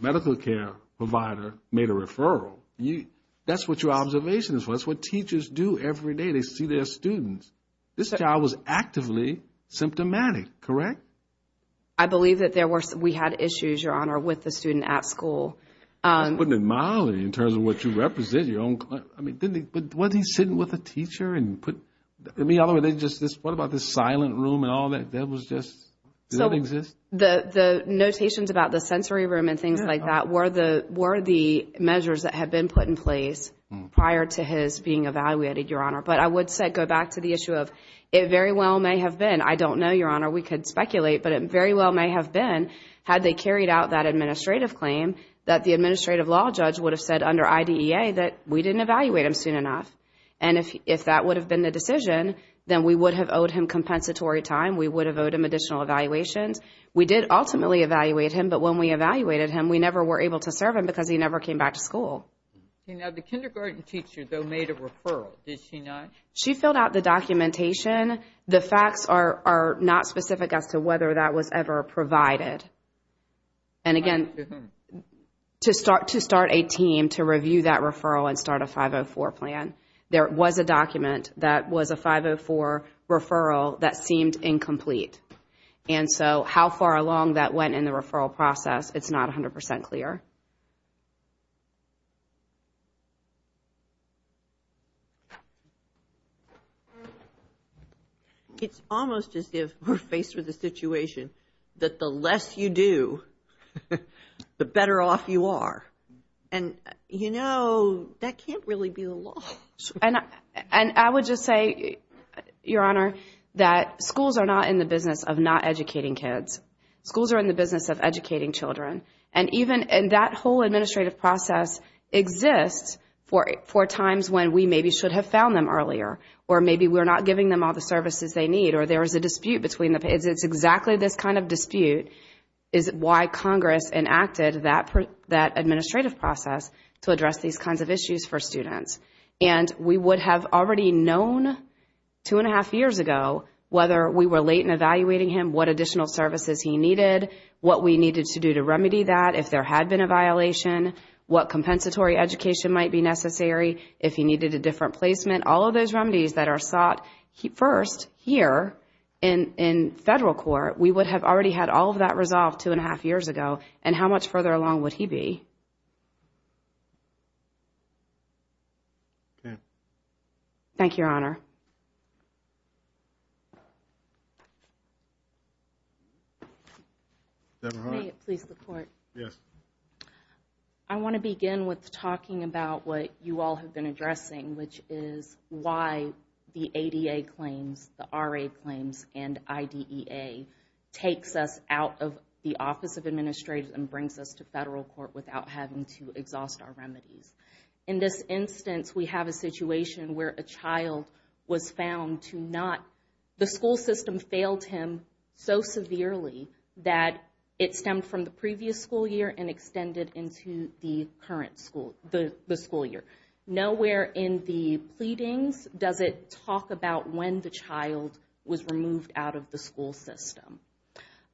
medical care provider made a referral. That's what your observation is. That's what teachers do every day. They see their students. This child was actively symptomatic, correct? I believe that we had issues, Your Honor, with the student at school. You're putting it mildly in terms of what you represent. Was he sitting with a teacher? What about the silent room and all that? That was just... The notations about the sensory room and things like that were the measures that had been put in place prior to his being evaluated, Your Honor. But I would go back to the issue of it very well may have been, I don't know, Your Honor, we could speculate, but it very well may have been, had they carried out that administrative claim, that the administrative law judge would have said under IDEA that we didn't evaluate him soon enough. And if that would have been the decision, then we would have owed him compensatory time. We would have owed him additional evaluations. We did ultimately evaluate him, but when we evaluated him, we never were able to serve him because he never came back to school. The kindergarten teacher, though, made a referral, did she not? She filled out the documentation. The facts are not specific as to whether that was ever provided. And again, to start a team to review that referral and start a 504 plan, there was a document that was a 504 referral that seemed incomplete. And so how far along that went in the referral process, it's not 100% clear. It's almost as if we're faced with a situation that the less you do, the better off you are. And, you know, that can't really be the law. And I would just say, Your Honor, that schools are not in the business of not educating kids. Schools are in the business of educating children. And even in that whole administrative process exists for times when we maybe should have found them earlier, or maybe we're not giving them all the services they need, or there is a dispute between the kids. It's exactly this kind of dispute is why Congress enacted that administrative process to address these kinds of issues for students. And we would have already known two and a half years ago, whether we were late in evaluating him, what additional services he needed, what we needed to do to remedy that if there had been a violation, what compensatory education might be necessary if he needed a different placement. All of those remedies that are sought first here in federal court, we would have already had all of that resolved two and a half years ago. And how much further along would he be? Okay. Thank you, Your Honor. Debra Hart. Please, the Court. Yes. I want to begin with talking about what you all have been addressing, which is why the ADA claims, the RA claims, and IDEA takes us out of the Office of Administrative and brings us to federal court without having to exhaust our remedies. In this instance, we have a situation where a child was found to not, the school system failed him so severely that it stemmed from the previous school year and the current school, the school year. Nowhere in the pleadings does it talk about when the child was removed out of the school system.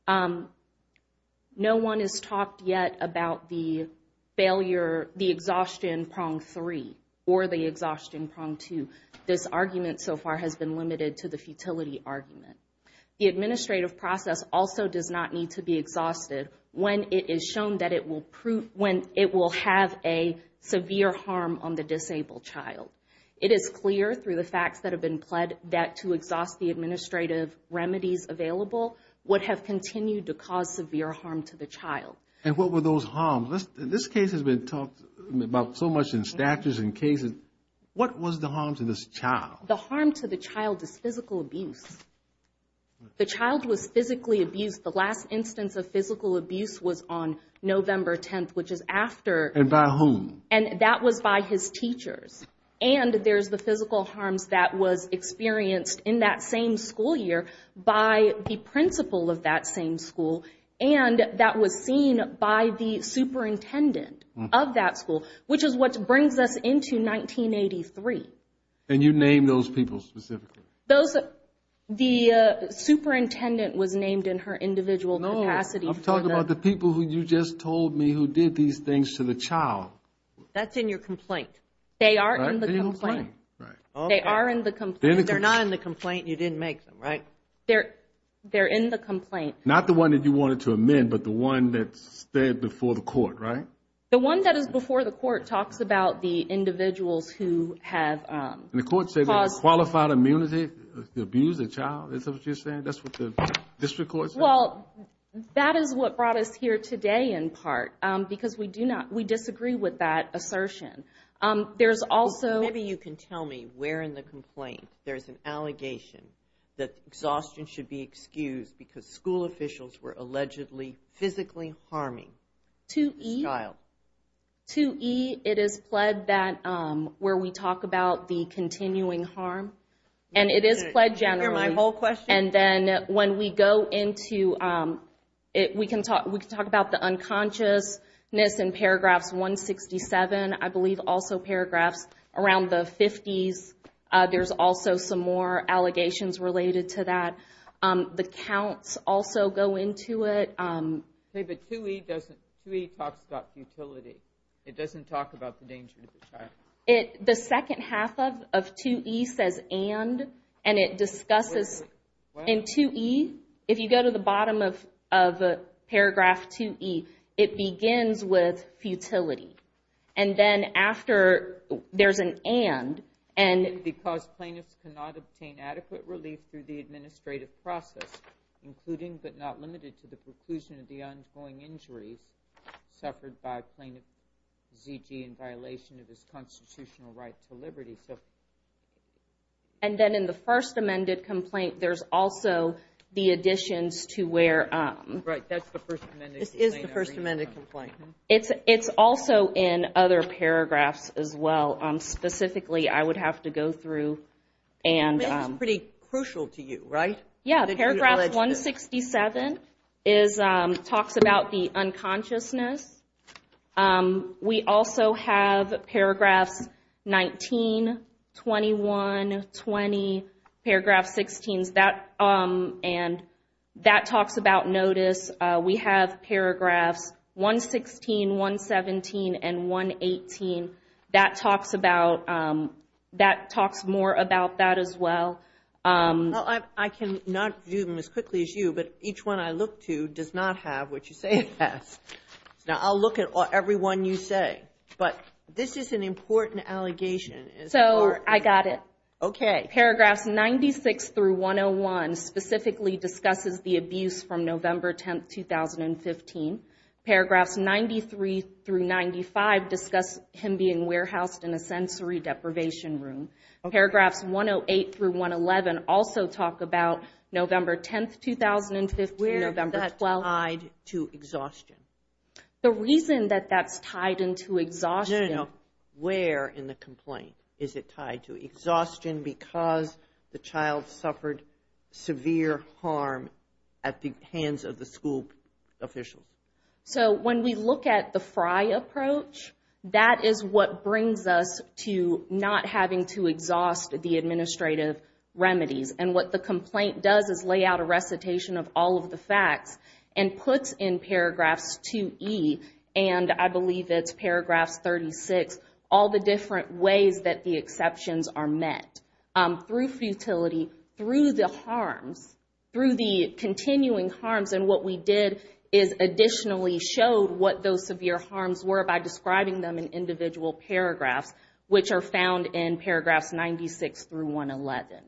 No one has talked yet about the failure, the exhaustion prong three or the exhaustion prong two. This argument so far has been limited to the futility argument. The administrative process also does not need to be exhausted when it is shown that it will prove, when it will have a severe harm on the disabled child. It is clear through the facts that have been pled that to exhaust the administrative remedies available would have continued to cause severe harm to the child. And what were those harms? This case has been talked about so much in statutes and cases. What was the harm to this child? The harm to the child is physical abuse. The child was physically abused. The last instance of physical abuse was on November 10th, which is after. And by whom? And that was by his teachers. And there's the physical harms that was experienced in that same school year by the principal of that same school. And that was seen by the superintendent of that school, which is what brings us into 1983. And you named those people specifically? Those, the superintendent was named in her individual capacity. I'm talking about the people who you just told me who did these things to the child. That's in your complaint. They are in the complaint. They are in the complaint. They're not in the complaint. You didn't make them, right? They're, they're in the complaint. Not the one that you wanted to amend, but the one that's there before the court, right? The one that is before the court talks about the individuals who have. And the court said qualified immunity to abuse a child. Is that what you're saying? That's what the district court said? Well, that is what brought us here today, in part, because we do not, we disagree with that assertion. There's also. Maybe you can tell me where in the complaint there's an allegation that exhaustion should be excused because school officials were allegedly physically harming this child. 2E, it is pled that where we talk about the continuing harm. And it is pled generally. Hear my whole question. And then when we go into it, we can talk. We can talk about the unconsciousness in paragraphs 167. I believe also paragraphs around the 50s. There's also some more allegations related to that. The counts also go into it. Okay, but 2E doesn't, 2E talks about futility. It doesn't talk about the danger to the child. The second half of 2E says and, and it discusses. In 2E, if you go to the bottom of paragraph 2E, it begins with futility. And then after there's an and, and. Because plaintiffs cannot obtain adequate relief through the administrative process, including but not limited to the preclusion of the ongoing injuries suffered by plaintiff Zigi in violation of his constitutional right to liberty. And then in the first amended complaint, there's also the additions to where. Right, that's the first amendment. This is the first amendment complaint. It's, it's also in other paragraphs as well. Specifically, I would have to go through and. I mean, it's pretty crucial to you, right? Yeah, paragraph 167 is, talks about the unconsciousness. We also have paragraphs 19, 21, 20. Paragraph 16 is that, and that talks about notice. We have paragraphs 116, 117, and 118. That talks about, that talks more about that as well. Well, I can not do them as quickly as you, but each one I look to does not have what you say it has. Now, I'll look at everyone you say, but this is an important allegation. So, I got it. Okay. Paragraphs 96 through 101 specifically discusses the abuse from November 10, 2015. Paragraphs 93 through 95 discuss him being warehoused in a sensory deprivation room. Paragraphs 108 through 111 also talk about November 10, 2015. Where is that tied to exhaustion? The reason that that's tied into exhaustion. No, no, no. Where in the complaint is it tied to exhaustion? Because the child suffered severe harm at the hands of the school officials. So, when we look at the FRI approach, that is what brings us to not having to exhaust the administrative remedies. And what the complaint does is lay out a recitation of all of the facts and puts in paragraphs 2E, and I believe it's paragraphs 36, all the different ways that the exceptions are met. Through futility, through the harms, through the continuing harms. And what we did is additionally showed what those severe harms were by describing them in individual paragraphs, which are found in paragraphs 96 through 111.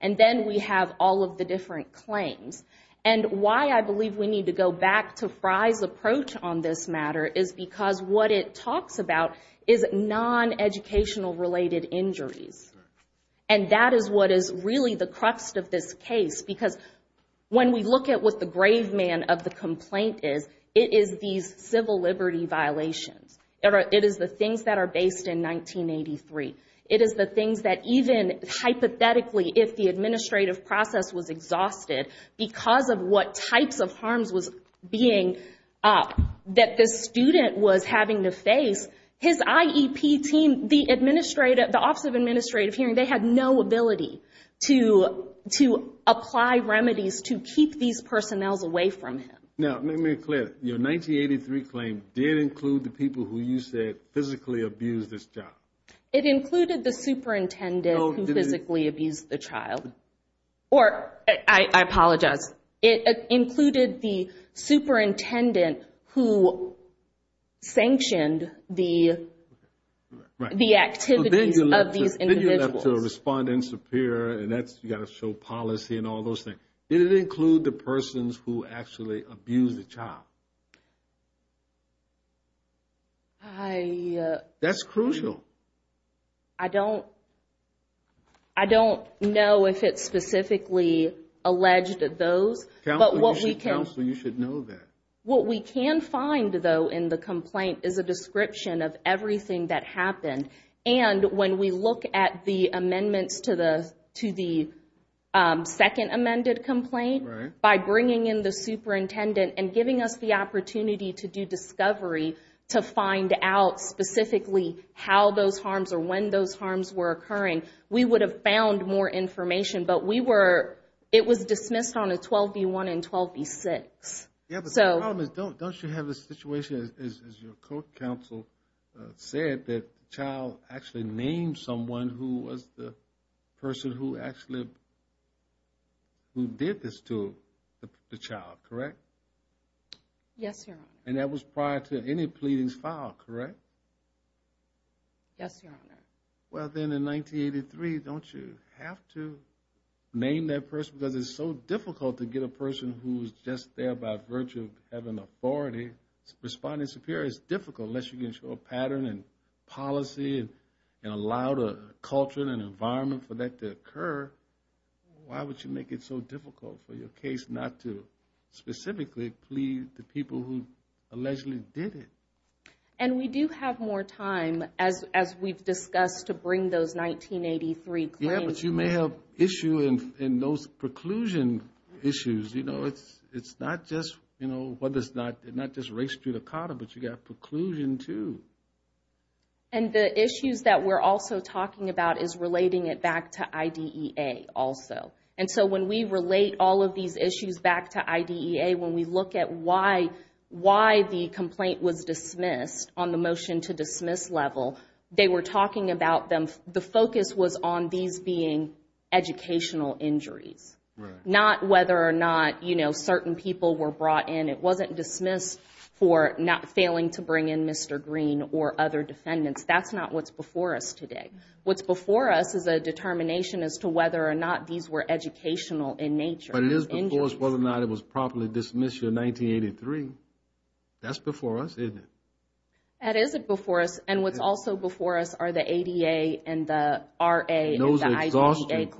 And then we have all of the different claims. And why I believe we need to go back to FRI's approach on this matter is because what it talks about is non-educational related injuries. And that is what is really the crux of this case. Because when we look at what the grave man of the complaint is, it is these civil liberty violations. It is the things that are based in 1983. It is the things that even hypothetically, if the administrative process was exhausted because of what types of harms was being, that this student was having to face, his IEP team, the Office of Administrative Hearing, they had no ability to apply remedies to keep these personnels away from him. Now, let me be clear. Your 1983 claim did include the people who you said physically abused this child. It included the superintendent who physically abused the child. Or, I apologize, it included the superintendent who sanctioned the activities of these individuals. But then you left to a respondent superior, and that's, you got to show policy and all those things. Did it include the persons who actually abused the child? That's crucial. I don't know if it specifically alleged those, but what we can... Counselor, you should know that. What we can find, though, in the complaint is a description of everything that happened. And when we look at the amendments to the second amended complaint, by bringing in the superintendent and giving us the opportunity to do discovery to find out specifically how those harms or when those harms were occurring, we would have found more information. But it was dismissed on a 12B1 and 12B6. Yeah, but the problem is, don't you have a situation, as your co-counsel said, that the child actually named someone who was the person who actually... Who did this to the child, correct? Yes, Your Honor. And that was prior to any pleadings filed, correct? Yes, Your Honor. Well, then in 1983, don't you have to name that person? Because it's so difficult to get a person who's just there by virtue of having authority responding superior. It's difficult, unless you can show a pattern and policy and allow the culture and environment for that to occur. Why would you make it so difficult for your case not to specifically plead the people who allegedly did it? And we do have more time, as we've discussed, to bring those 1983 claims. Yeah, but you may have issue in those preclusion issues. You know, it's not just race judicata, but you've got preclusion too. And the issues that we're also talking about is relating it back to IDEA also. And so when we relate all of these issues back to IDEA, when we look at why the complaint was dismissed on the motion to dismiss level, they were talking about them... educational injuries. Not whether or not, you know, certain people were brought in. It wasn't dismissed for not failing to bring in Mr. Green or other defendants. That's not what's before us today. What's before us is a determination as to whether or not these were educational in nature. But it is before us whether or not it was properly dismissed in 1983. That's before us, isn't it? That is before us. And what's also before us are the ADA and the RA and the IDEA.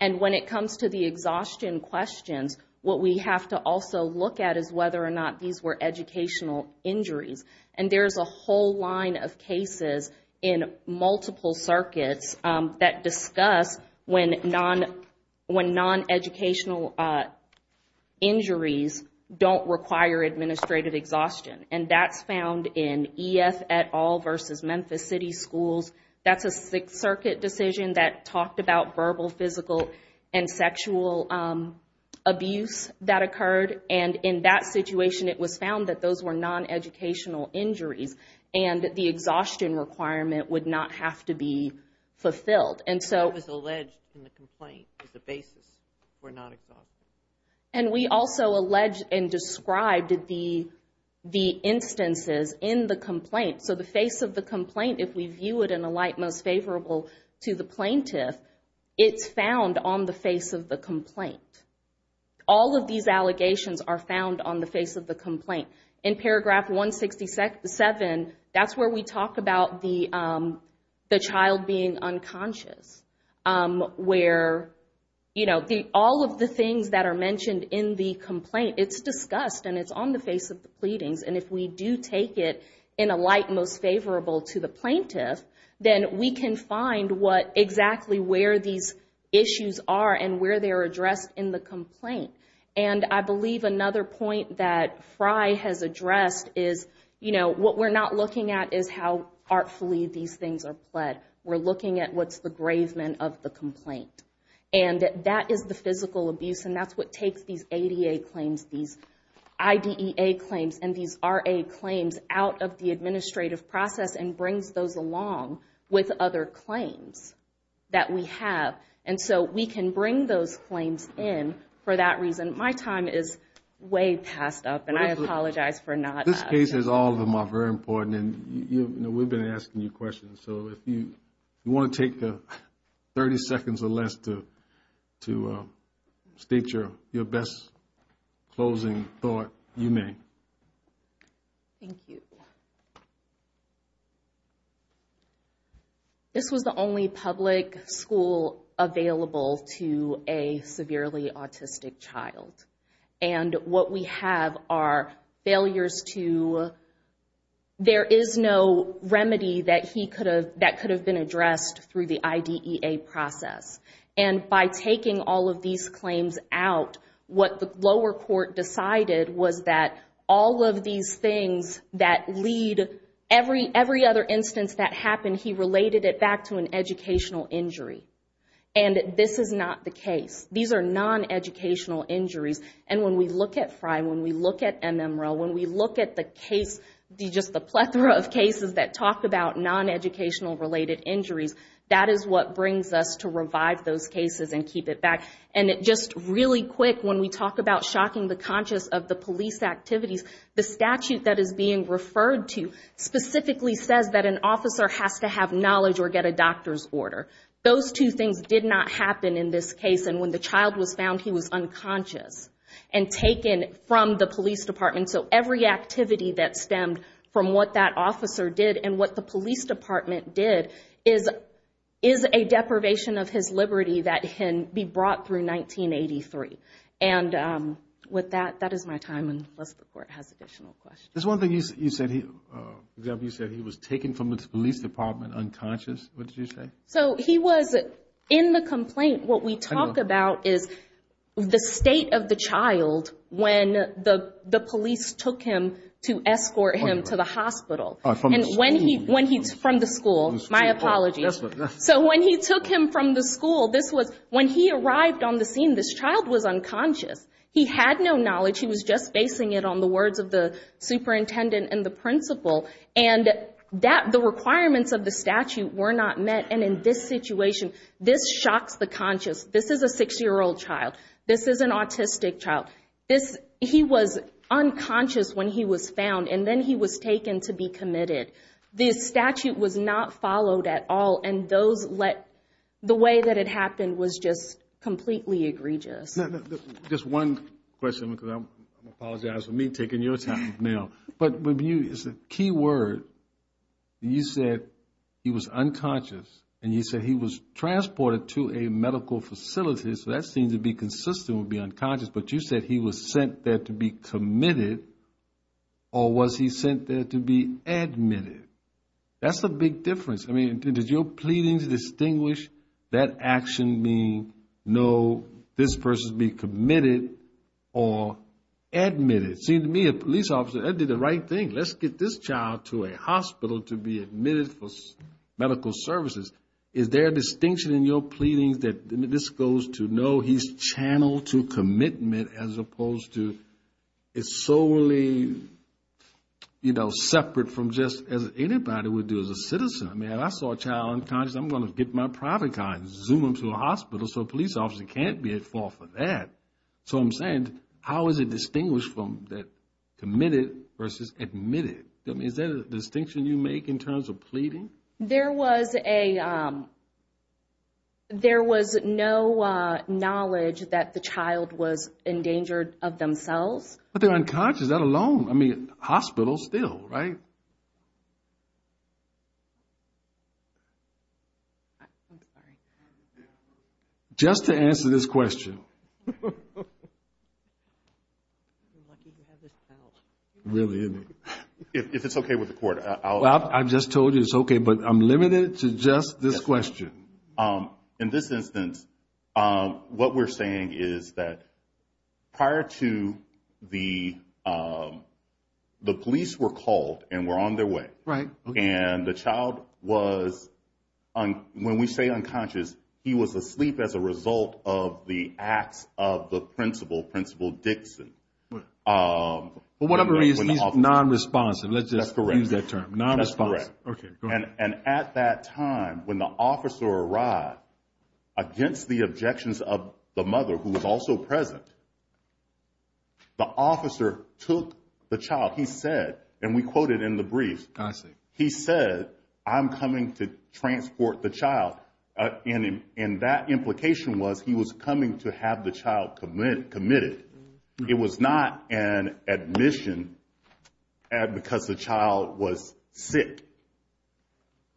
And when it comes to the exhaustion questions, what we have to also look at is whether or not these were educational injuries. And there's a whole line of cases in multiple circuits that discuss when non-educational injuries don't require administrative exhaustion. And that's found in EF et al versus Memphis City Schools. That's a Sixth Circuit decision that talked about verbal, physical, and sexual abuse that occurred. And in that situation, it was found that those were non-educational injuries and the exhaustion requirement would not have to be fulfilled. And so... It was alleged in the complaint that the basis were not exhaustive. And we also alleged and described the instances in the complaint. So the face of the complaint, if we view it in a light most favorable to the plaintiff, it's found on the face of the complaint. All of these allegations are found on the face of the complaint. In paragraph 167, that's where we talk about the child being unconscious. Where, you know, all of the things that are mentioned in the complaint, it's discussed and it's on the face of the pleadings. And if we do take it in a light most favorable to the plaintiff, then we can find what exactly where these issues are and where they are addressed in the complaint. And I believe another point that Frye has addressed is, you know, what we're not looking at is how artfully these things are pled. We're looking at what's the gravement of the complaint. And that is the physical abuse. And that's what takes these ADA claims, these IDEA claims, and these RA claims out of the administrative process and brings those along with other claims that we have. And so we can bring those claims in for that reason. My time is way passed up and I apologize for not... This case is all of them are very important. And you know, we've been asking you questions. So if you want to take 30 seconds or less to state your best closing thought, you may. Thank you. This was the only public school available to a severely autistic child. And what we have are failures to... There is no remedy that he could have... That could have been addressed through the IDEA process. And by taking all of these claims out, what the lower court decided was that all of these things that lead every other instance that happened, he related it back to an educational injury. And this is not the case. These are non-educational injuries. And when we look at Frye, when we look at MMREL, when we look at the case, just the plethora of cases that talk about non-educational related injuries, that is what brings us to revive those cases and keep it back. And just really quick, when we talk about shocking the conscious of the police activities, the statute that is being referred to specifically says that an officer has to have knowledge or get a doctor's order. Those two things did not happen in this case. And when the child was found, he was unconscious and taken from the police department. So every activity that stemmed from what that officer did and what the police department did is a deprivation of his liberty that can be brought through 1983. And with that, that is my time, unless the court has additional questions. There's one thing you said, you said he was taken from the police department unconscious. What did you say? So he was in the complaint. What we talk about is the state of the child when the police took him to escort him to the hospital. And when he's from the school, my apologies. So when he took him from the school, this was when he arrived on the scene, this child was unconscious. He had no knowledge. He was just basing it on the words of the superintendent and the principal. And the requirements of the statute were not met. And in this situation, this shocks the conscious. This is a 60-year-old child. This is an autistic child. He was unconscious when he was found. And then he was taken to be committed. The statute was not followed at all. And the way that it happened was just completely egregious. Just one question, because I apologize for me taking your time now. But it's a key word. You said he was unconscious. And you said he was transported to a medical facility. So that seems to be consistent with being unconscious. But you said he was sent there to be committed. Or was he sent there to be admitted? That's the big difference. I mean, did your pleadings distinguish that action being no, this person's being committed or admitted? It seemed to me, a police officer, that did the right thing. Let's get this child to a hospital to be admitted for medical services. Is there a distinction in your pleadings that this goes to no, he's channeled to commitment as opposed to solely separate from just as anybody would do as a citizen? I mean, if I saw a child unconscious, I'm going to get my private car and zoom him to a hospital. So a police officer can't be at fault for that. So I'm saying, how is it distinguished from that committed versus admitted? I mean, is there a distinction you make in terms of pleading? There was no knowledge that the child was endangered of themselves. But they're unconscious, let alone, I mean, hospital still, right? I'm sorry. Just to answer this question. I'm lucky to have this towel. Really, isn't it? If it's okay with the court, I'll- I just told you it's okay, but I'm limited to just this question. In this instance, what we're saying is that prior to the police were called and were on their way. Right. And the child was, when we say unconscious, he was asleep as a result of the acts of the principal, Principal Dixon. For whatever reason, he's non-responsive. Let's just use that term, non-responsive. Okay. And at that time, when the officer arrived against the objections of the mother, who was also present, the officer took the child. He said, and we quoted in the brief, he said, I'm coming to transport the child. And that implication was he was coming to have the child committed. It was not an admission because the child was sick.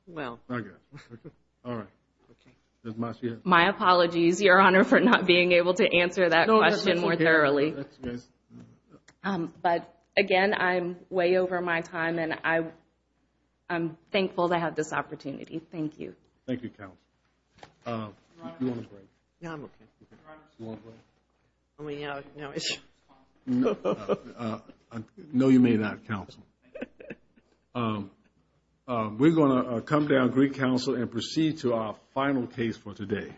Well. I guess. All right. My apologies, Your Honor, for not being able to answer that question more thoroughly. But again, I'm way over my time and I'm thankful to have this opportunity. Thank you. Thank you, Counsel. You want to break? No, I'm okay. I mean, yeah, no. No, you may not, Counsel. Okay. We're going to come down, greet Counsel, and proceed to our final case for today.